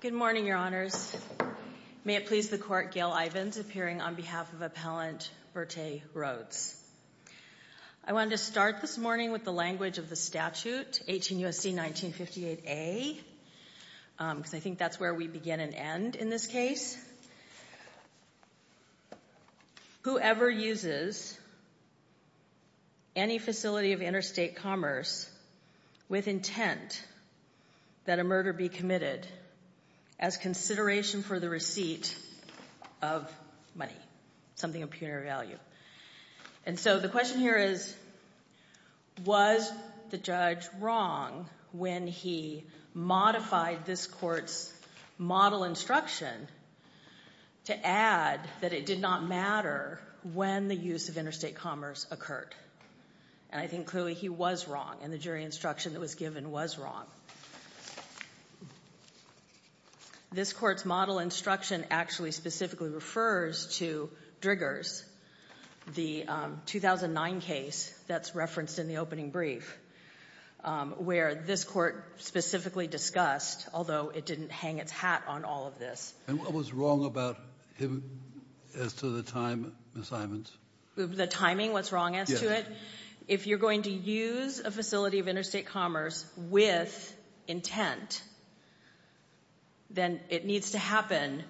Good morning, Your Honors. May it please the Court, Gail Ivins, appearing on behalf of Appellant Berthe Rhodes. I wanted to start this morning with the language of the statute, 18 U.S.C. 1958a, because I think that's where we begin and end in this case. Whoever uses any facility of interstate commerce with intent that a murder be committed as consideration for the receipt of money, something of punitive value. And so the question here is, was the judge wrong when he modified this court's model instruction to add that it did not matter when the use of interstate commerce occurred? And I think clearly he was wrong, and the jury instruction that was given was wrong. This court's model instruction actually specifically refers to Driggers, the 2009 case that's referenced in the opening brief, where this court specifically discussed, although it didn't hang its hat on all of this. And what was wrong about him as to the time assignments? The timing, what's wrong as to it? Yes. If you're going to use a facility of interstate commerce with intent, then it needs to happen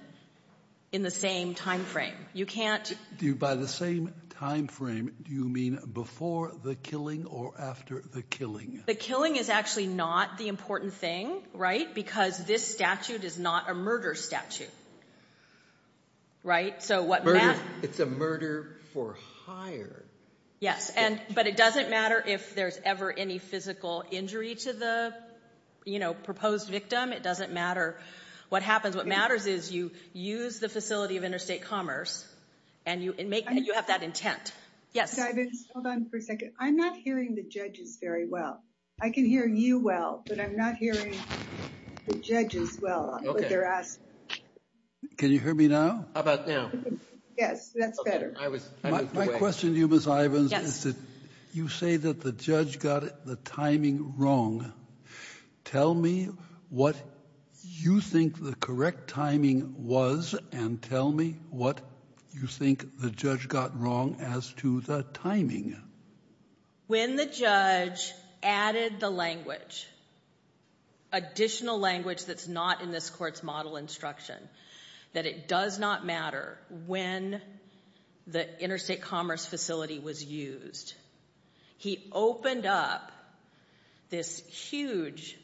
in the same time frame. You can't- By the same time frame, do you mean before the killing or after the killing? The killing is actually not the important thing, right, because this statute is not a murder statute, right? So what Matt- Murder, it's a murder for hire. Yes, but it doesn't matter if there's ever any physical injury to the proposed victim. It doesn't matter what happens. What matters is you use the facility of interstate commerce and you have that intent. Yes? Hold on for a second. I'm not hearing the judges very well. I can hear you well, but I'm not hearing the judges well with their asking. Can you hear me now? How about now? Yes, that's better. My question to you, Ms. Ivins, is that you say that the judge got the timing wrong. Tell me what you think the correct timing was and tell me what you think the judge got wrong as to the timing. When the judge added the language, additional language that's not in this court's model instruction, that it does not matter when the interstate commerce facility was used, he opened up this huge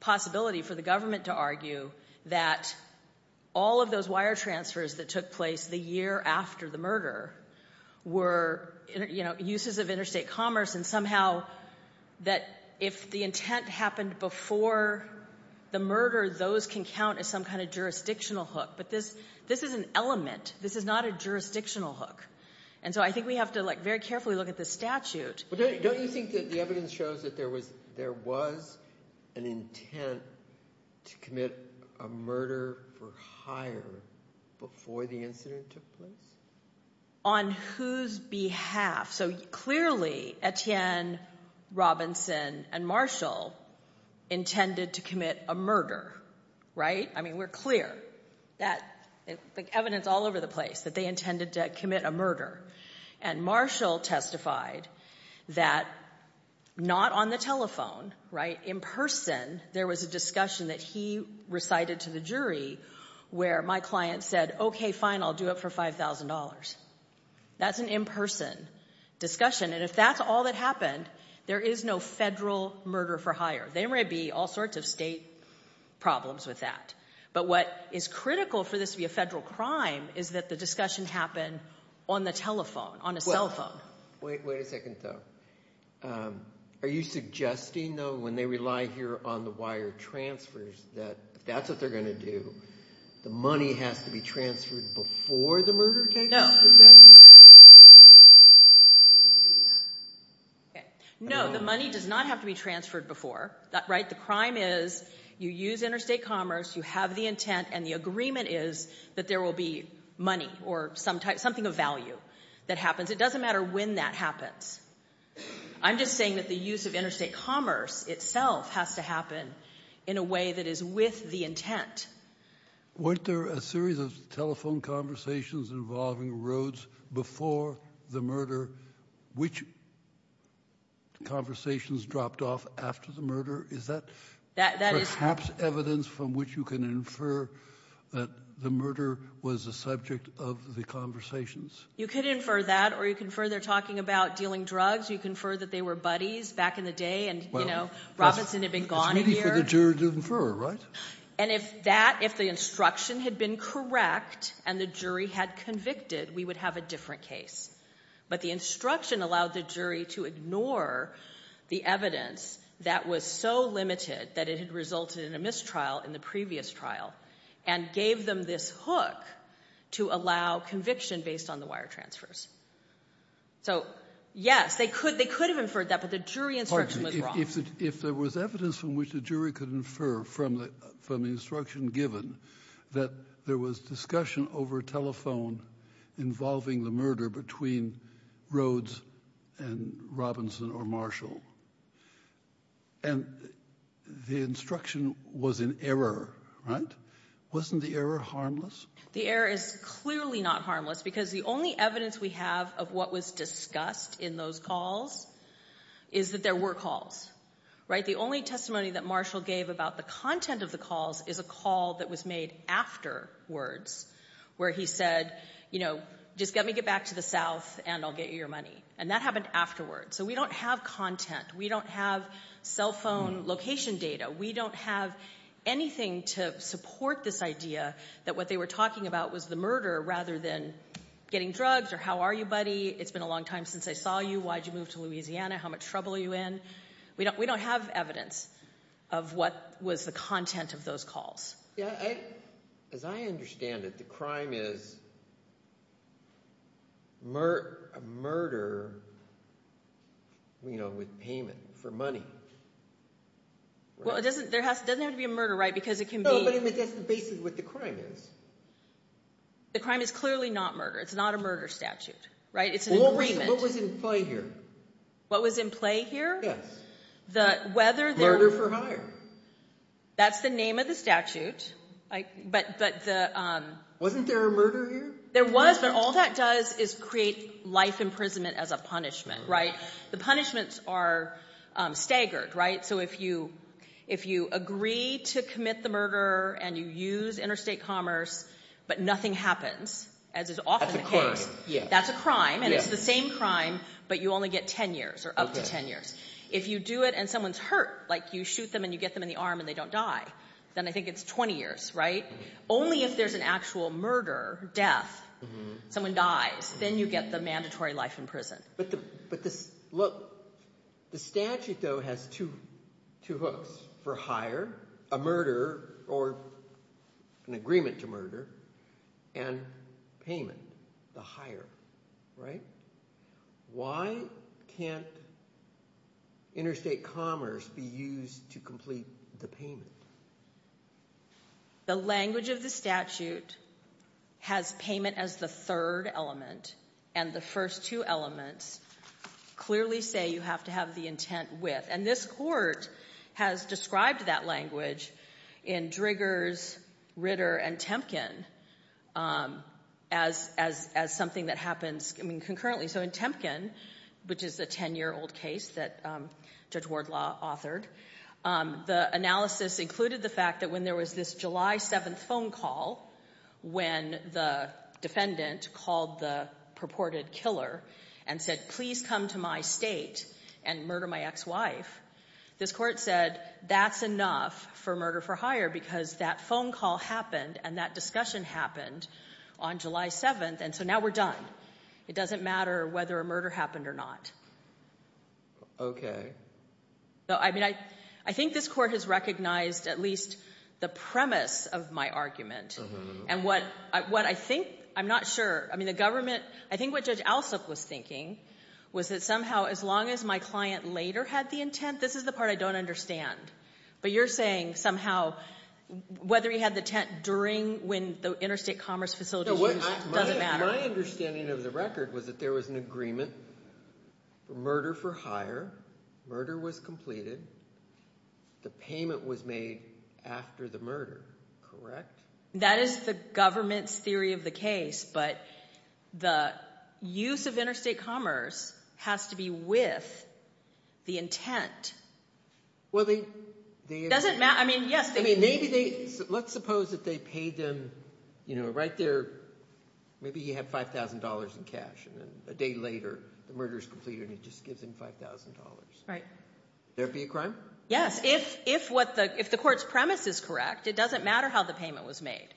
possibility for the government to argue that all of those wire transfers that took place the year after the murder were uses of interstate commerce and somehow that if the intent happened before the murder, those can count as some kind of jurisdictional hook, but this is an element. This is not a jurisdictional hook, and so I think we have to very carefully look at the statute. Don't you think that the evidence shows that there was an intent to commit a murder for hire before the incident took place? On whose behalf? So clearly Etienne, Robinson, and Marshall intended to commit a murder, right? I mean, we're clear that the evidence all over the place that they intended to commit a murder, and Marshall testified that not on the telephone, right? In person, there was a discussion that he recited to the jury where my client said, okay, fine, I'll do it for $5,000. That's an in-person discussion, and if that's all that happened, there is no federal murder for hire. There may be all sorts of state problems with that, but what is critical for this to be a federal crime is that the discussion happen on the telephone, on a cell phone. Wait a second, though. Are you suggesting, though, when they rely here on the wire transfers that if that's what they're going to do, the money has to be transferred before the murder takes place? No. No, the money does not have to be transferred before. The crime is you use interstate commerce, you have the intent, and the agreement is that there will be money or something of value that happens. It doesn't matter when that happens. I'm just saying that the use of interstate commerce itself has to happen in a way that is with the intent. Weren't there a series of telephone conversations involving Rhodes before the murder, which conversations dropped off after the murder? Is that perhaps evidence from which you can infer that the murder was a subject of the conversations? You could infer that, or you can infer they're talking about dealing drugs. You can infer that they were buddies back in the day and, you know, Robinson had been gone a year. It's maybe for the jury to infer, right? And if that, if the instruction had been correct and the jury had convicted, we would have a different case. But the instruction allowed the jury to ignore the evidence that was so limited that it had resulted in a mistrial in the previous trial and gave them this hook to allow conviction based on the wire transfers. So, yes, they could have inferred that, but the jury instruction was wrong. If there was evidence from which the jury could infer from the instruction given that there was discussion over telephone involving the murder between Rhodes and Robinson or Marshall, and the instruction was an error, right? Wasn't the error harmless? The error is clearly not harmless because the only evidence we have of what was discussed in those calls is that there were calls, right? The only testimony that Marshall gave about the content of the calls is a call that was made afterwards where he said, you know, just let me get back to the South and I'll get you your money. And that happened afterwards. So we don't have content. We don't have cell phone location data. We don't have anything to support this idea that what they were talking about was the murder rather than getting drugs or how are you, buddy? It's been a long time since I saw you. Why'd you move to Louisiana? How much trouble are you in? We don't have evidence of what was the content of those calls. As I understand it, the crime is a murder, you know, with payment for money. Well, it doesn't have to be a murder, right? Because it can be. No, but that's the basis of what the crime is. The crime is clearly not murder. It's not a murder statute, right? It's an agreement. What was in play here? What was in play here? Murder for hire. That's the name of the statute. Wasn't there a murder here? There was, but all that does is create life imprisonment as a punishment, right? The punishments are staggered, right? So if you agree to commit the murder and you use interstate commerce, but nothing happens, as is often the case, that's a crime, and it's the same crime, but you only get 10 years or up to 10 years. If you do it and someone's hurt, like you shoot them and you get them in the arm and they don't die, then I think it's 20 years, right? Only if there's an actual murder, death, someone dies, then you get the mandatory life in prison. But the – look, the statute, though, has two hooks. For hire, a murder or an agreement to murder, and payment, the hire, right? Why can't interstate commerce be used to complete the payment? The language of the statute has payment as the third element, and the first two elements clearly say you have to have the intent with. And this court has described that language in Driggers, Ritter, and Temkin as something that happens concurrently. So in Temkin, which is a 10-year-old case that Judge Wardlaw authored, the analysis included the fact that when there was this July 7th phone call when the defendant called the purported killer and said, please come to my state and murder my ex-wife, this court said that's enough for murder for hire because that phone call happened and that discussion happened on July 7th, and so now we're done. It doesn't matter whether a murder happened or not. Okay. I mean, I think this court has recognized at least the premise of my argument. And what I think, I'm not sure, I mean the government, I think what Judge Alsop was thinking was that somehow as long as my client later had the intent, this is the part I don't understand. But you're saying somehow whether he had the intent during when the interstate commerce facility was used doesn't matter. My understanding of the record was that there was an agreement, murder for hire, murder was completed, the payment was made after the murder, correct? That is the government's theory of the case, but the use of interstate commerce has to be with the intent. Well, they – Does it matter? I mean, yes. I mean, maybe they, let's suppose that they paid them, you know, right there, maybe he had $5,000 in cash, and then a day later the murder is completed and he just gives them $5,000. Right. Would that be a crime? Yes. If the court's premise is correct, it doesn't matter how the payment was made.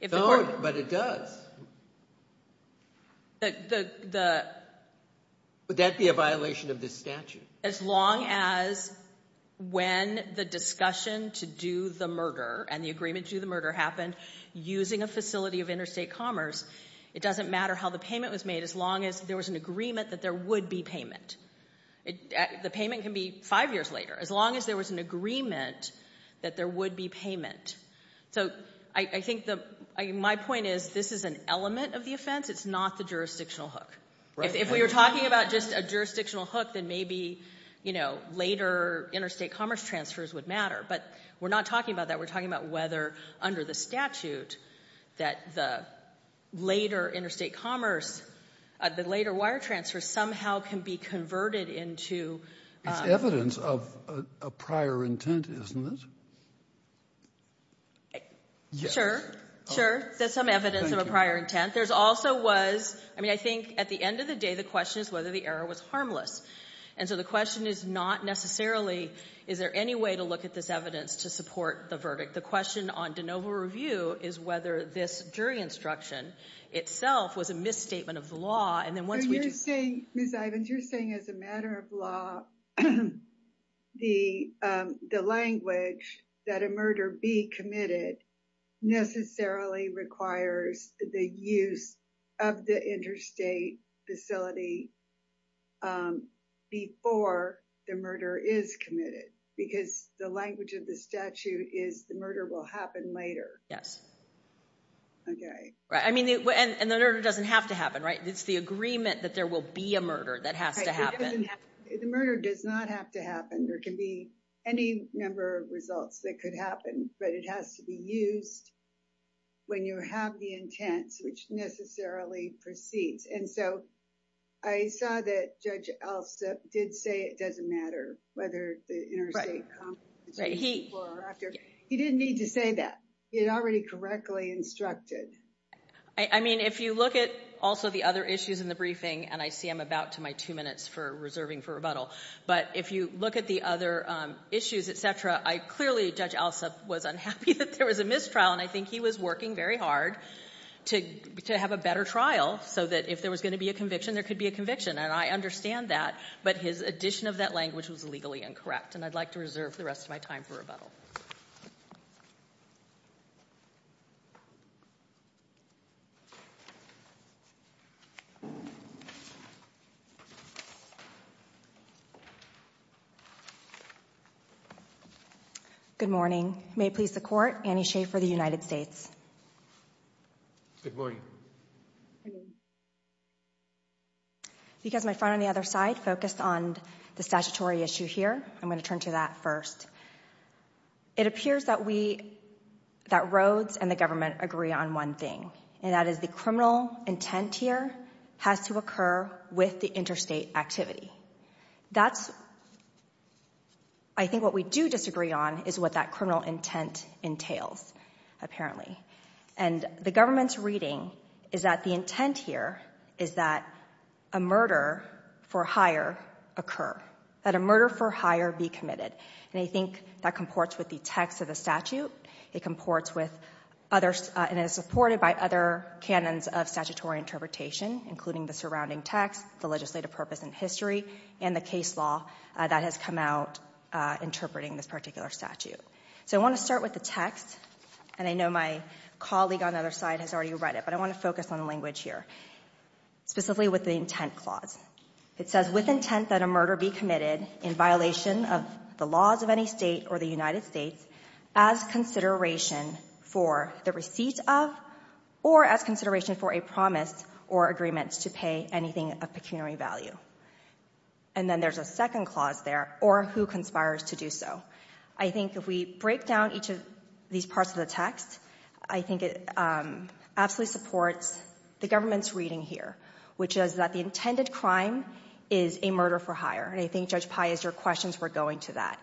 No, but it does. Would that be a violation of this statute? As long as when the discussion to do the murder and the agreement to do the murder happened using a facility of interstate commerce, it doesn't matter how the payment was made as long as there was an agreement that there would be payment. The payment can be five years later as long as there was an agreement that there would be payment. So I think my point is this is an element of the offense. It's not the jurisdictional hook. If we were talking about just a jurisdictional hook, then maybe, you know, later interstate commerce transfers would matter, but we're not talking about that. We're talking about whether under the statute that the later interstate commerce, the later wire transfer, somehow can be converted into... It's evidence of a prior intent, isn't it? Sure, sure. There's some evidence of a prior intent. There also was... I mean, I think at the end of the day the question is whether the error was harmless. And so the question is not necessarily is there any way to look at this evidence to support the verdict. The question on de novo review is whether this jury instruction itself was a misstatement of the law. Ms. Ivins, you're saying as a matter of law, the language that a murder be committed necessarily requires the use of the interstate facility before the murder is committed. Because the language of the statute is the murder will happen later. Yes. Okay. Right. I mean, and the murder doesn't have to happen, right? It's the agreement that there will be a murder that has to happen. The murder does not have to happen. There can be any number of results that could happen, but it has to be used when you have the intent, which necessarily proceeds. And so I saw that Judge Alsup did say it doesn't matter whether the interstate commerce... Right. He... He didn't need to say that. He had already correctly instructed. I mean, if you look at also the other issues in the briefing, and I see I'm about to my two minutes for reserving for rebuttal. But if you look at the other issues, et cetera, I clearly, Judge Alsup was unhappy that there was a mistrial, and I think he was working very hard to have a better trial so that if there was going to be a conviction, there could be a conviction. And I understand that. But his addition of that language was legally incorrect. And I'd like to reserve the rest of my time for rebuttal. Good morning. May it please the Court, Annie Schaefer of the United States. Good morning. My friend on the other side focused on the statutory issue here. I'm going to turn to that first. It appears that Rhodes and the government agree on one thing, and that is the criminal intent here has to occur with the interstate activity. I think what we do disagree on is what that criminal intent entails, apparently. And the government's reading is that the intent here is that a murder for hire occur, that a murder for hire be committed. And I think that comports with the text of the statute. It comports with others and is supported by other canons of statutory interpretation, including the surrounding text, the legislative purpose and history, and the case law that has come out interpreting this particular statute. So I want to start with the text. And I know my colleague on the other side has already read it, but I want to focus on the language here, specifically with the intent clause. It says, with intent that a murder be committed in violation of the laws of any state or the United States as consideration for the receipt of or as consideration for a promise or agreement to pay anything of pecuniary value. And then there's a second clause there, or who conspires to do so. I think if we break down each of these parts of the text, I think it absolutely supports the government's reading here, which is that the intended crime is a murder for hire. And I think, Judge Pai, as your questions were going to that,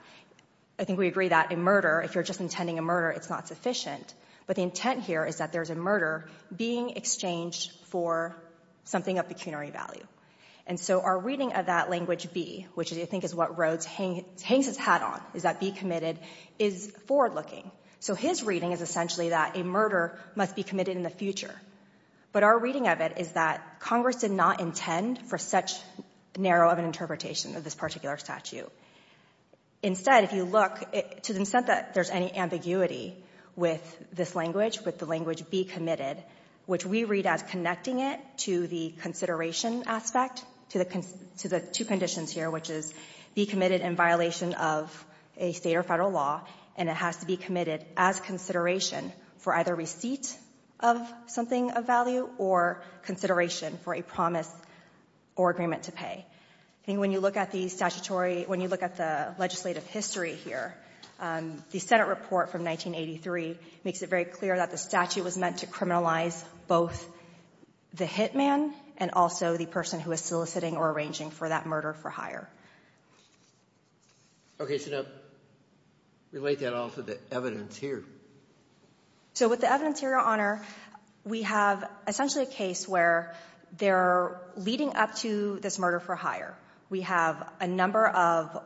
I think we agree that a murder, if you're just intending a murder, it's not sufficient. But the intent here is that there's a murder being exchanged for something of pecuniary value. And so our reading of that language B, which I think is what Rhodes hangs his hat on, is that be committed is forward-looking. So his reading is essentially that a murder must be committed in the future. But our reading of it is that Congress did not intend for such narrow of an interpretation of this particular statute. Instead, if you look, to the extent that there's any ambiguity with this language, with the language be committed, which we read as connecting it to the consideration aspect, to the two conditions here, which is be committed in violation of a state or federal law, and it has to be committed as consideration for either receipt of something of value or consideration for a promise or agreement to pay. I think when you look at the statutory, when you look at the legislative history here, the Senate report from 1983 makes it very clear that the statute was meant to criminalize both the hit man and also the person who is soliciting or arranging for that murder for hire. Okay, so now relate that all to the evidence here. So with the evidence here, Your Honor, we have essentially a case where they're leading up to this murder for hire. We have a number of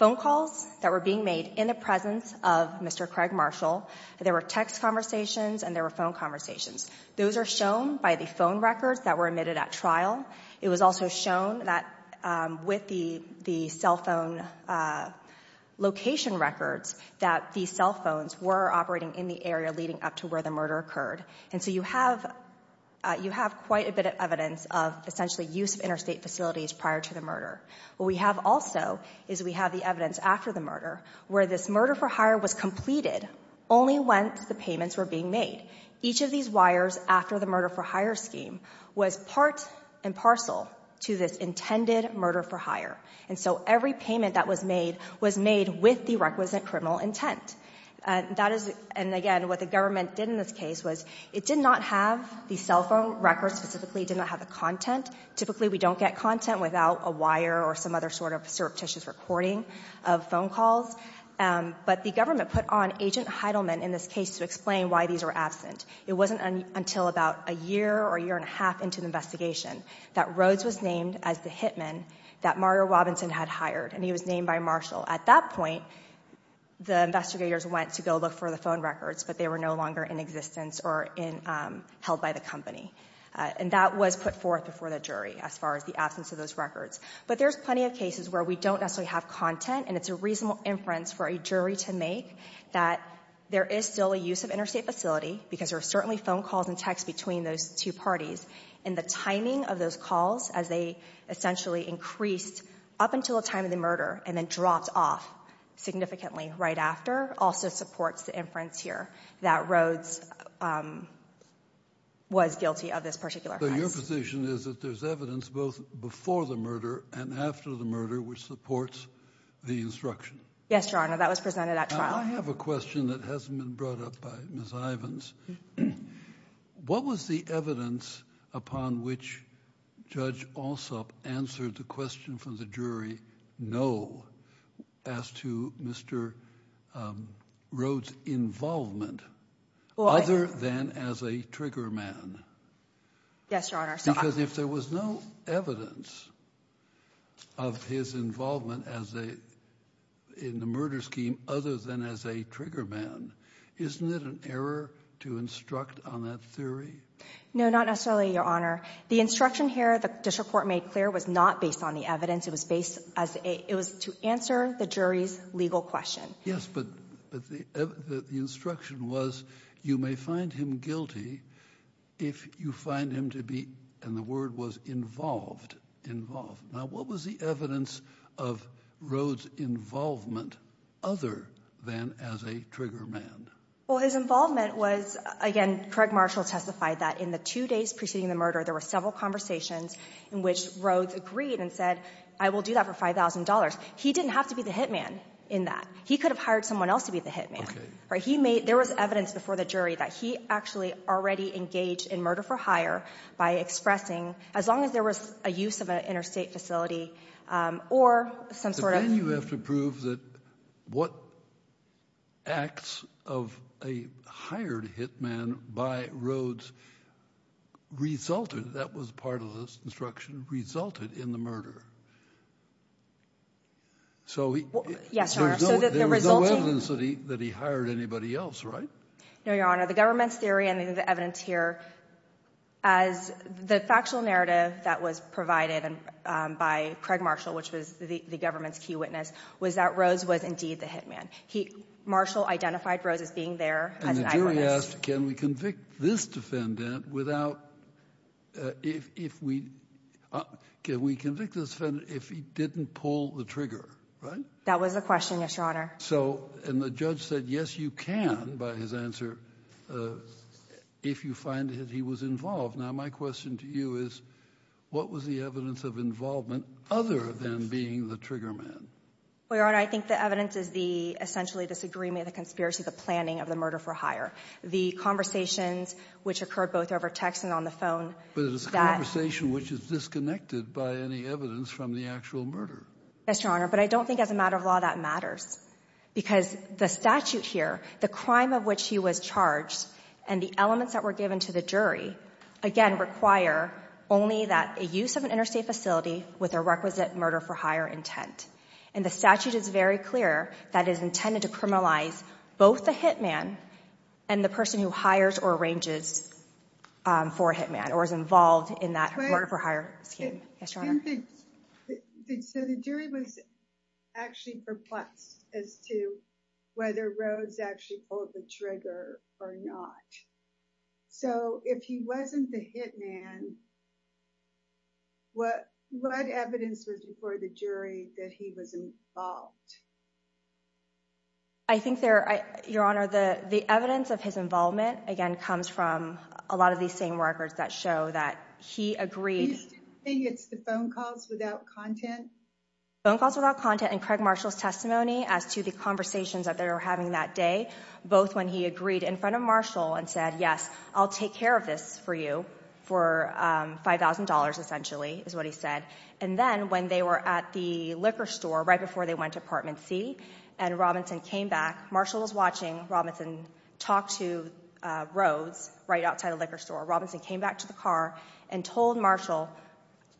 phone calls that were being made in the presence of Mr. Craig Marshall. There were text conversations and there were phone conversations. Those are shown by the phone records that were admitted at trial. It was also shown that with the cell phone location records that these cell phones were operating in the area leading up to where the murder occurred. And so you have quite a bit of evidence of essentially use of interstate facilities prior to the murder. What we have also is we have the evidence after the murder where this murder for hire was completed only once the payments were being made. Each of these wires after the murder for hire scheme was part and parcel to this intended murder for hire. And so every payment that was made was made with the requisite criminal intent. That is, and again, what the government did in this case was it did not have the cell phone records specifically. It did not have the content. Typically we don't get content without a wire or some other sort of surreptitious recording of phone calls. But the government put on Agent Heidelman in this case to explain why these were absent. It wasn't until about a year or a year and a half into the investigation that Rhodes was named as the hitman that Mario Robinson had hired. And he was named by Marshall. At that point, the investigators went to go look for the phone records, but they were no longer in existence or held by the company. And that was put forth before the jury as far as the absence of those records. But there's plenty of cases where we don't necessarily have content. And it's a reasonable inference for a jury to make that there is still a use of interstate facility, because there are certainly phone calls and texts between those two parties. And the timing of those calls, as they essentially increased up until the time of the murder and then dropped off significantly right after, also supports the inference here that Rhodes was guilty of this particular case. Your position is that there's evidence both before the murder and after the murder, which supports the instruction. Yes, Your Honor. That was presented at trial. I have a question that hasn't been brought up by Ms. Ivins. What was the evidence upon which Judge Alsop answered the question from the jury, no, as to Mr. Rhodes' involvement, other than as a trigger man? Yes, Your Honor. Because if there was no evidence of his involvement in the murder scheme other than as a trigger man, isn't it an error to instruct on that theory? No, not necessarily, Your Honor. The instruction here the district court made clear was not based on the evidence. It was to answer the jury's legal question. Yes, but the instruction was you may find him guilty if you find him to be, and the word was involved, involved. Now, what was the evidence of Rhodes' involvement other than as a trigger man? Well, his involvement was, again, Craig Marshall testified that in the two days preceding the murder, there were several conversations in which Rhodes agreed and said, I will do that for $5,000. He didn't have to be the hit man in that. He could have hired someone else to be the hit man. There was evidence before the jury that he actually already engaged in murder for hire by expressing, as long as there was a use of an interstate facility or some sort of— But then you have to prove that what acts of a hired hit man by Rhodes resulted, that was part of this instruction, resulted in the murder. Yes, Your Honor. So there was no evidence that he hired anybody else, right? No, Your Honor. The government's theory and the evidence here, as the factual narrative that was provided by Craig Marshall, which was the government's key witness, was that Rhodes was indeed the hit man. Marshall identified Rhodes as being there as an eyewitness. The jury asked, can we convict this defendant if he didn't pull the trigger, right? That was the question, yes, Your Honor. And the judge said, yes, you can, by his answer, if you find that he was involved. Now, my question to you is, what was the evidence of involvement other than being the trigger man? Well, Your Honor, I think the evidence is essentially this agreement, the conspiracy, the planning of the murder for hire. The conversations which occurred both over text and on the phone— But it's a conversation which is disconnected by any evidence from the actual murder. Yes, Your Honor, but I don't think as a matter of law that matters. Because the statute here, the crime of which he was charged, and the elements that were given to the jury, again, require only that a use of an interstate facility with a requisite murder for hire intent. And the statute is very clear that it is intended to criminalize both the hit man and the person who hires or arranges for a hit man, or is involved in that murder for hire scheme. So the jury was actually perplexed as to whether Rhodes actually pulled the trigger or not. So if he wasn't the hit man, what evidence was before the jury that he was involved? I think, Your Honor, the evidence of his involvement, again, comes from a lot of these same records that show that he agreed— You're saying it's the phone calls without content? Phone calls without content and Craig Marshall's testimony as to the conversations that they were having that day, both when he agreed in front of Marshall and said, yes, I'll take care of this for you for $5,000, essentially, is what he said. And then when they were at the liquor store right before they went to Apartment C and Robinson came back, Marshall was watching Robinson talk to Rhodes right outside the liquor store. Robinson came back to the car and told Marshall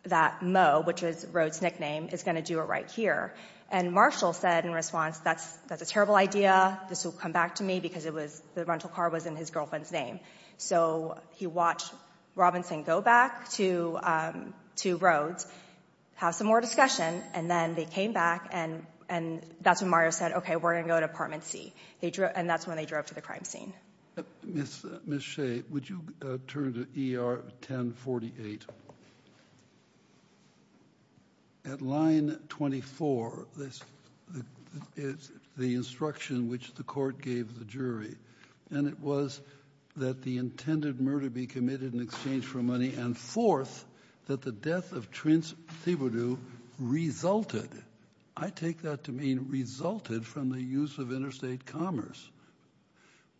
that Moe, which is Rhodes' nickname, is going to do it right here. And Marshall said in response, that's a terrible idea. This will come back to me because the rental car was in his girlfriend's name. So he watched Robinson go back to Rhodes, have some more discussion, and then they came back. And that's when Marshall said, OK, we're going to go to Apartment C. And that's when they drove to the crime scene. Ms. Shea, would you turn to ER 1048? At line 24, it's the instruction which the court gave the jury. And it was that the intended murder be committed in exchange for money and, fourth, that the death of Trince Thibodeau resulted. I take that to mean resulted from the use of interstate commerce.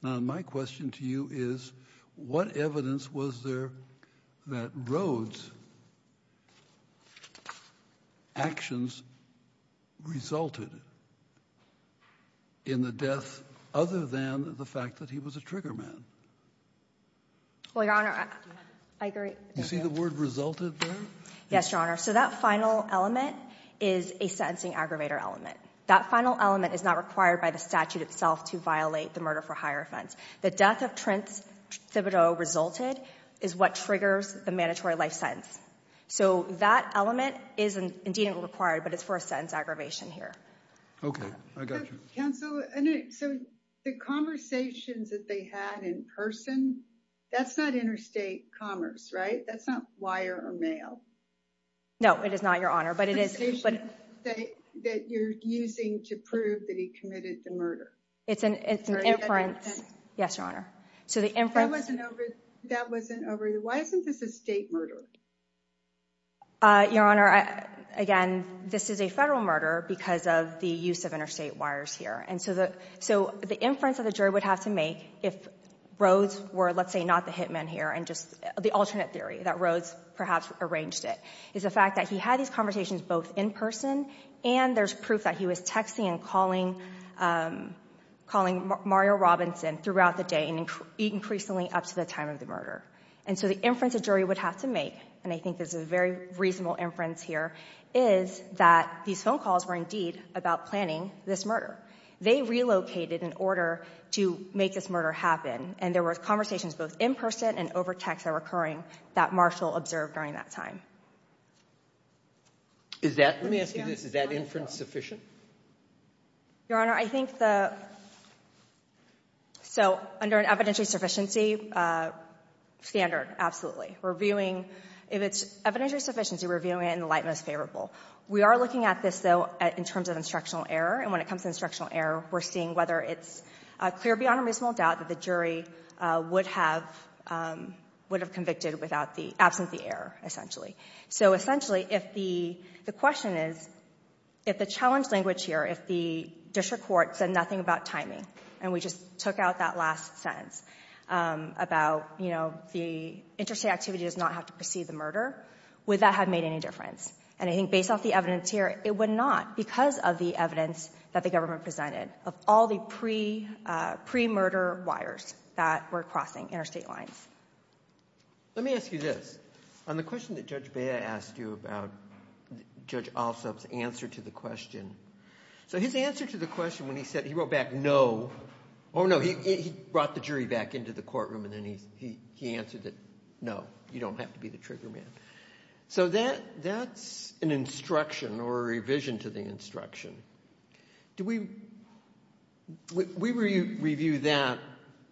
Now, my question to you is, what evidence was there that Rhodes' actions resulted in the death other than the fact that he was a trigger man? Well, Your Honor, I agree. You see the word resulted there? Yes, Your Honor. So that final element is a sentencing aggravator element. That final element is not required by the statute itself to violate the murder for hire offense. The death of Trince Thibodeau resulted is what triggers the mandatory life sentence. So that element is indeed required, but it's for a sentence aggravation here. OK, I got you. Counsel, so the conversations that they had in person, that's not interstate commerce, right? That's not wire or mail. No, it is not, Your Honor. The conversation that you're using to prove that he committed the murder. It's an inference. Yes, Your Honor. That wasn't over. Why isn't this a state murder? Your Honor, again, this is a federal murder because of the use of interstate wires here. And so the inference that the jury would have to make if Rhodes were, let's say, not the hitman here, and just the alternate theory that Rhodes perhaps arranged it, is the fact that he had these conversations both in person and there's proof that he was texting and calling Mario Robinson throughout the day and increasingly up to the time of the murder. And so the inference the jury would have to make, and I think this is a very reasonable inference here, is that these phone calls were indeed about planning this murder. They relocated in order to make this murder happen, and there were conversations both in person and over text that were occurring that Marshall observed during that time. Is that, let me ask you this, is that inference sufficient? Your Honor, I think the, so under an evidentiary sufficiency standard, absolutely. Reviewing, if it's evidentiary sufficiency, reviewing it in the light most favorable. We are looking at this, though, in terms of instructional error, and when it comes to instructional error, we're seeing whether it's clear beyond a reasonable doubt that the jury would have convicted without the absence of the error, essentially. So essentially, if the question is, if the challenge language here, if the district court said nothing about timing, and we just took out that last sentence about, you know, the interstate activity does not have to precede the murder, would that have made any difference? And I think based off the evidence here, it would not, because of the evidence that the government presented, of all the pre-murder wires that were crossing interstate lines. Let me ask you this. On the question that Judge Bea asked you about Judge Alsop's answer to the question, so his answer to the question when he said, he wrote back, no, oh, no, he brought the jury back into the courtroom, and then he answered that, no, you don't have to be the trigger man. So that's an instruction or a revision to the instruction. Do we review that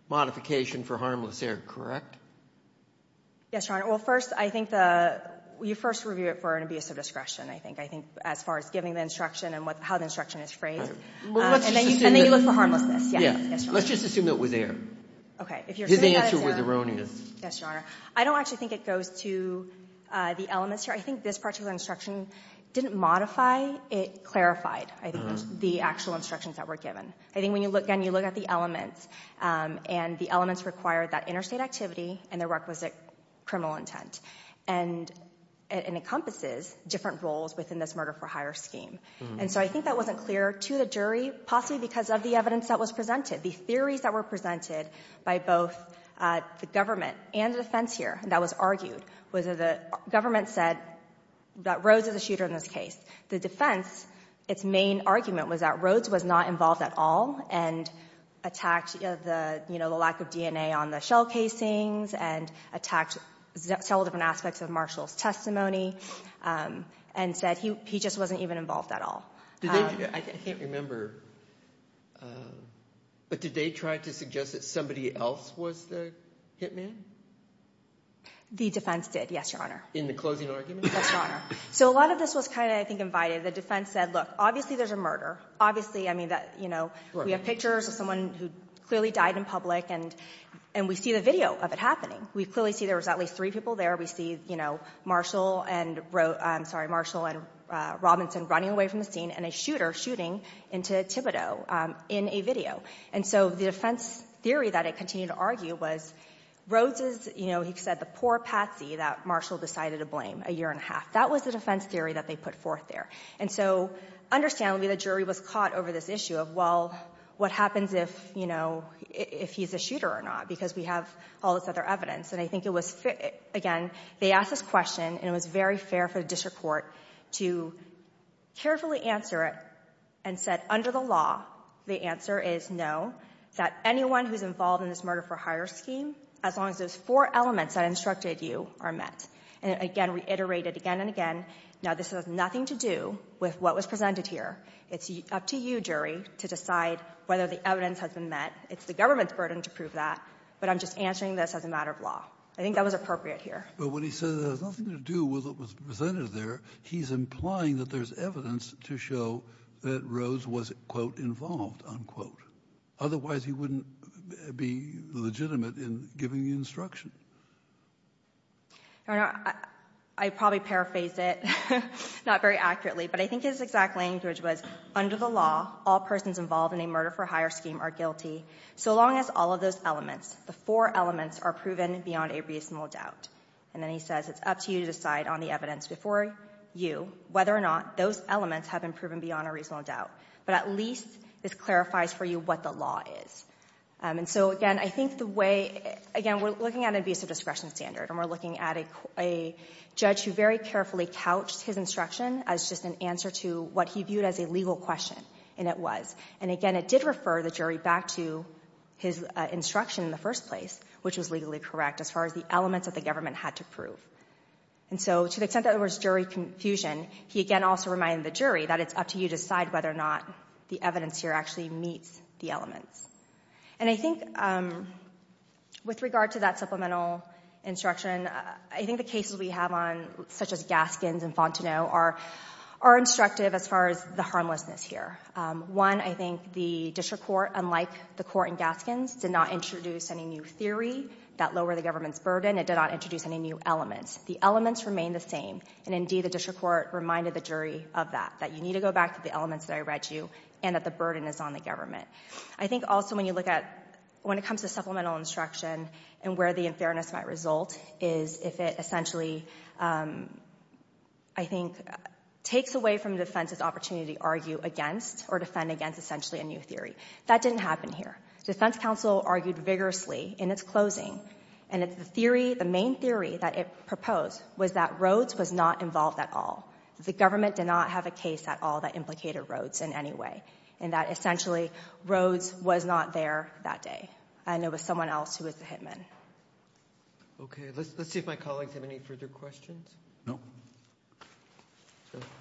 modification for harmless error, correct? Yes, Your Honor. Well, first, I think you first review it for an abuse of discretion, I think, as far as giving the instruction and how the instruction is phrased. And then you look for harmlessness. Yes, Your Honor. Let's just assume it was error. His answer was erroneous. Yes, Your Honor. I don't actually think it goes to the elements here. I think this particular instruction didn't modify. It clarified, I think, the actual instructions that were given. I think when you look again, you look at the elements, and the elements required that interstate activity and the requisite criminal intent. And it encompasses different roles within this murder-for-hire scheme. And so I think that wasn't clear to the jury, possibly because of the evidence that was presented, the theories that were presented by both the government and the defense here that was argued was that the government said that Rhoades is a shooter in this case. The defense, its main argument was that Rhoades was not involved at all and attacked the lack of DNA on the shell casings and attacked several different aspects of Marshall's testimony and said he just wasn't even involved at all. I can't remember, but did they try to suggest that somebody else was the hit man? The defense did, yes, Your Honor. In the closing argument? Yes, Your Honor. So a lot of this was kind of, I think, invited. The defense said, look, obviously there's a murder. Obviously, I mean, we have pictures of someone who clearly died in public, and we see the video of it happening. We clearly see there was at least three people there. We see Marshall and Robinson running away from the scene and a shooter shooting into Thibodeau in a video. And so the defense theory that it continued to argue was Rhoades is, you know, he said the poor patsy that Marshall decided to blame a year and a half. That was the defense theory that they put forth there. And so, understandably, the jury was caught over this issue of, well, what happens if he's a shooter or not because we have all this other evidence. And I think it was, again, they asked this question, and it was very fair for the district court to carefully answer it and said under the law the answer is no, that anyone who's involved in this murder-for-hire scheme, as long as those four elements I instructed you are met. And, again, reiterated again and again, now this has nothing to do with what was presented here. It's up to you, jury, to decide whether the evidence has been met. It's the government's burden to prove that, but I'm just answering this as a matter of law. I think that was appropriate here. But when he says it has nothing to do with what was presented there, he's implying that there's evidence to show that Rhoades was, quote, involved, unquote. Otherwise he wouldn't be legitimate in giving the instruction. I probably paraphrased it, not very accurately, but I think his exact language was, under the law, all persons involved in a murder-for-hire scheme are guilty, so long as all of those elements, the four elements, are proven beyond a reasonable doubt. And then he says it's up to you to decide on the evidence before you whether or not those elements have been proven beyond a reasonable doubt, but at least this clarifies for you what the law is. And so, again, I think the way, again, we're looking at an abuse of discretion standard and we're looking at a judge who very carefully couched his instruction as just an answer to what he viewed as a legal question, and it was. And, again, it did refer the jury back to his instruction in the first place, which was legally correct as far as the elements that the government had to prove. And so to the extent that there was jury confusion, he again also reminded the jury that it's up to you to decide whether or not the evidence here actually meets the elements. And I think with regard to that supplemental instruction, I think the cases we have on, such as Gaskins and Fontenot, are instructive as far as the harmlessness here. One, I think the district court, unlike the court in Gaskins, did not introduce any new theory that lowered the government's burden. It did not introduce any new elements. The elements remain the same. And, indeed, the district court reminded the jury of that, that you need to go back to the elements that I read to you and that the burden is on the government. I think also when you look at when it comes to supplemental instruction and where the unfairness might result is if it essentially, I think, takes away from defense's opportunity to argue against or defend against essentially a new theory. That didn't happen here. Defense counsel argued vigorously in its closing, and the theory, the main theory that it proposed was that Rhodes was not involved at all. The government did not have a case at all that implicated Rhodes in any way and that essentially Rhodes was not there that day and it was someone else who was the hitman. Okay, let's see if my colleagues have any further questions. No.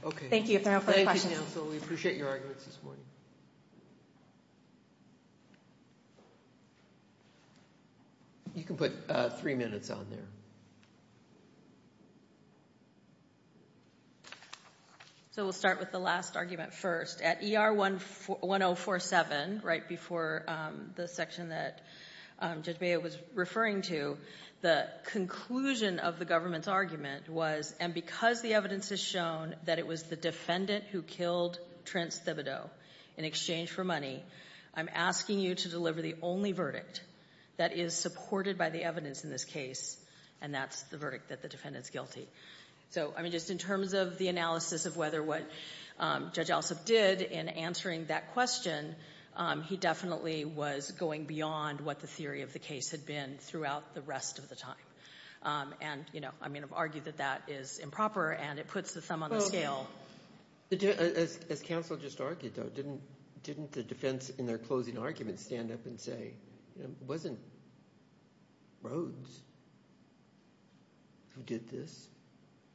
Okay. Thank you if there are no further questions. Thank you, counsel. We appreciate your arguments this morning. You can put three minutes on there. So we'll start with the last argument first. At ER 1047, right before the section that Judge Mayo was referring to, the conclusion of the government's argument was, and because the evidence has shown that it was the defendant who killed Trent Thibodeau in exchange for money, I'm asking you to deliver the only verdict that is supported by the evidence in this case, and that's the verdict that the defendant's guilty. So, I mean, just in terms of the analysis of whether what Judge Alsop did in answering that question, he definitely was going beyond what the theory of the case had been throughout the rest of the time. And, you know, I mean, I've argued that that is improper and it puts the thumb on the scale. As counsel just argued, though, didn't the defense in their closing argument stand up and say, it wasn't Rhodes who did this?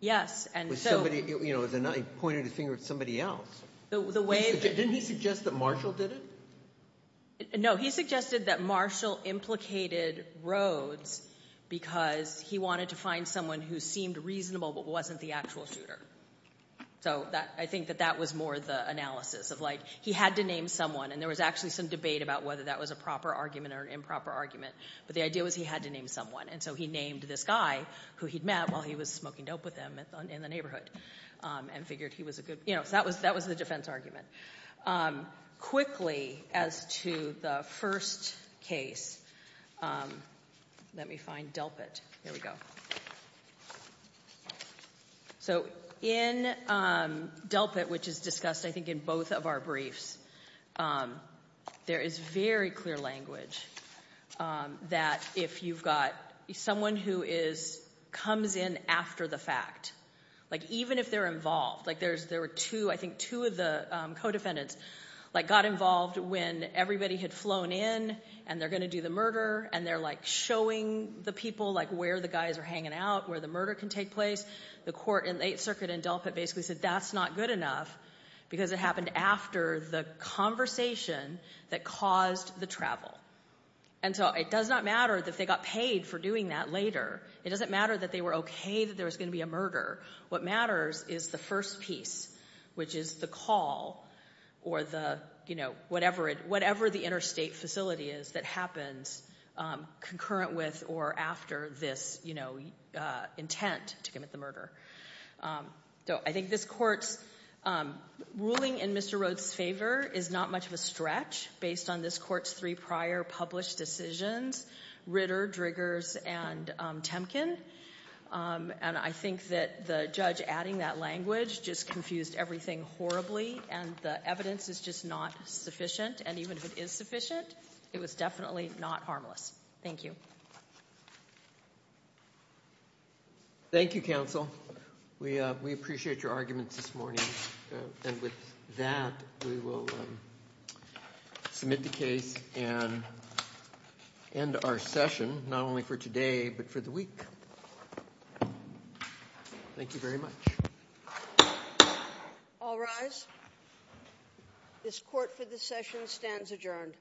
Yes. He pointed his finger at somebody else. Didn't he suggest that Marshall did it? No, he suggested that Marshall implicated Rhodes because he wanted to find someone who seemed reasonable but wasn't the actual shooter. So I think that that was more the analysis of, like, he had to name someone, and there was actually some debate about whether that was a proper argument or an improper argument, but the idea was he had to name someone, and so he named this guy who he'd met while he was smoking dope with him in the neighbourhood and figured he was a good... You know, so that was the defense argument. Quickly, as to the first case, let me find Delpit. Here we go. So in Delpit, which is discussed, I think, in both of our briefs, there is very clear language that if you've got someone who comes in after the fact, like, even if they're involved, like, there were two, I think two of the co-defendants, like, got involved when everybody had flown in and they're going to do the murder and they're, like, showing the people, like, where the guys are hanging out, where the murder can take place. The court in the Eighth Circuit in Delpit basically said that's not good enough because it happened after the conversation that caused the travel. And so it does not matter that they got paid for doing that later. It doesn't matter that they were OK that there was going to be a murder. What matters is the first piece, which is the call or the, you know, whatever the interstate facility is that happens concurrent with or after this, you know, intent to commit the murder. So I think this court's ruling in Mr. Rhodes' favour is not much of a stretch based on this court's three prior published decisions, Ritter, Driggers, and Temkin. And I think that the judge adding that language just confused everything horribly and the evidence is just not sufficient. And even if it is sufficient, it was definitely not harmless. Thank you. Thank you, counsel. We appreciate your arguments this morning. And with that, we will submit the case and end our session, not only for today but for the week. Thank you very much. All rise. This court for this session stands adjourned.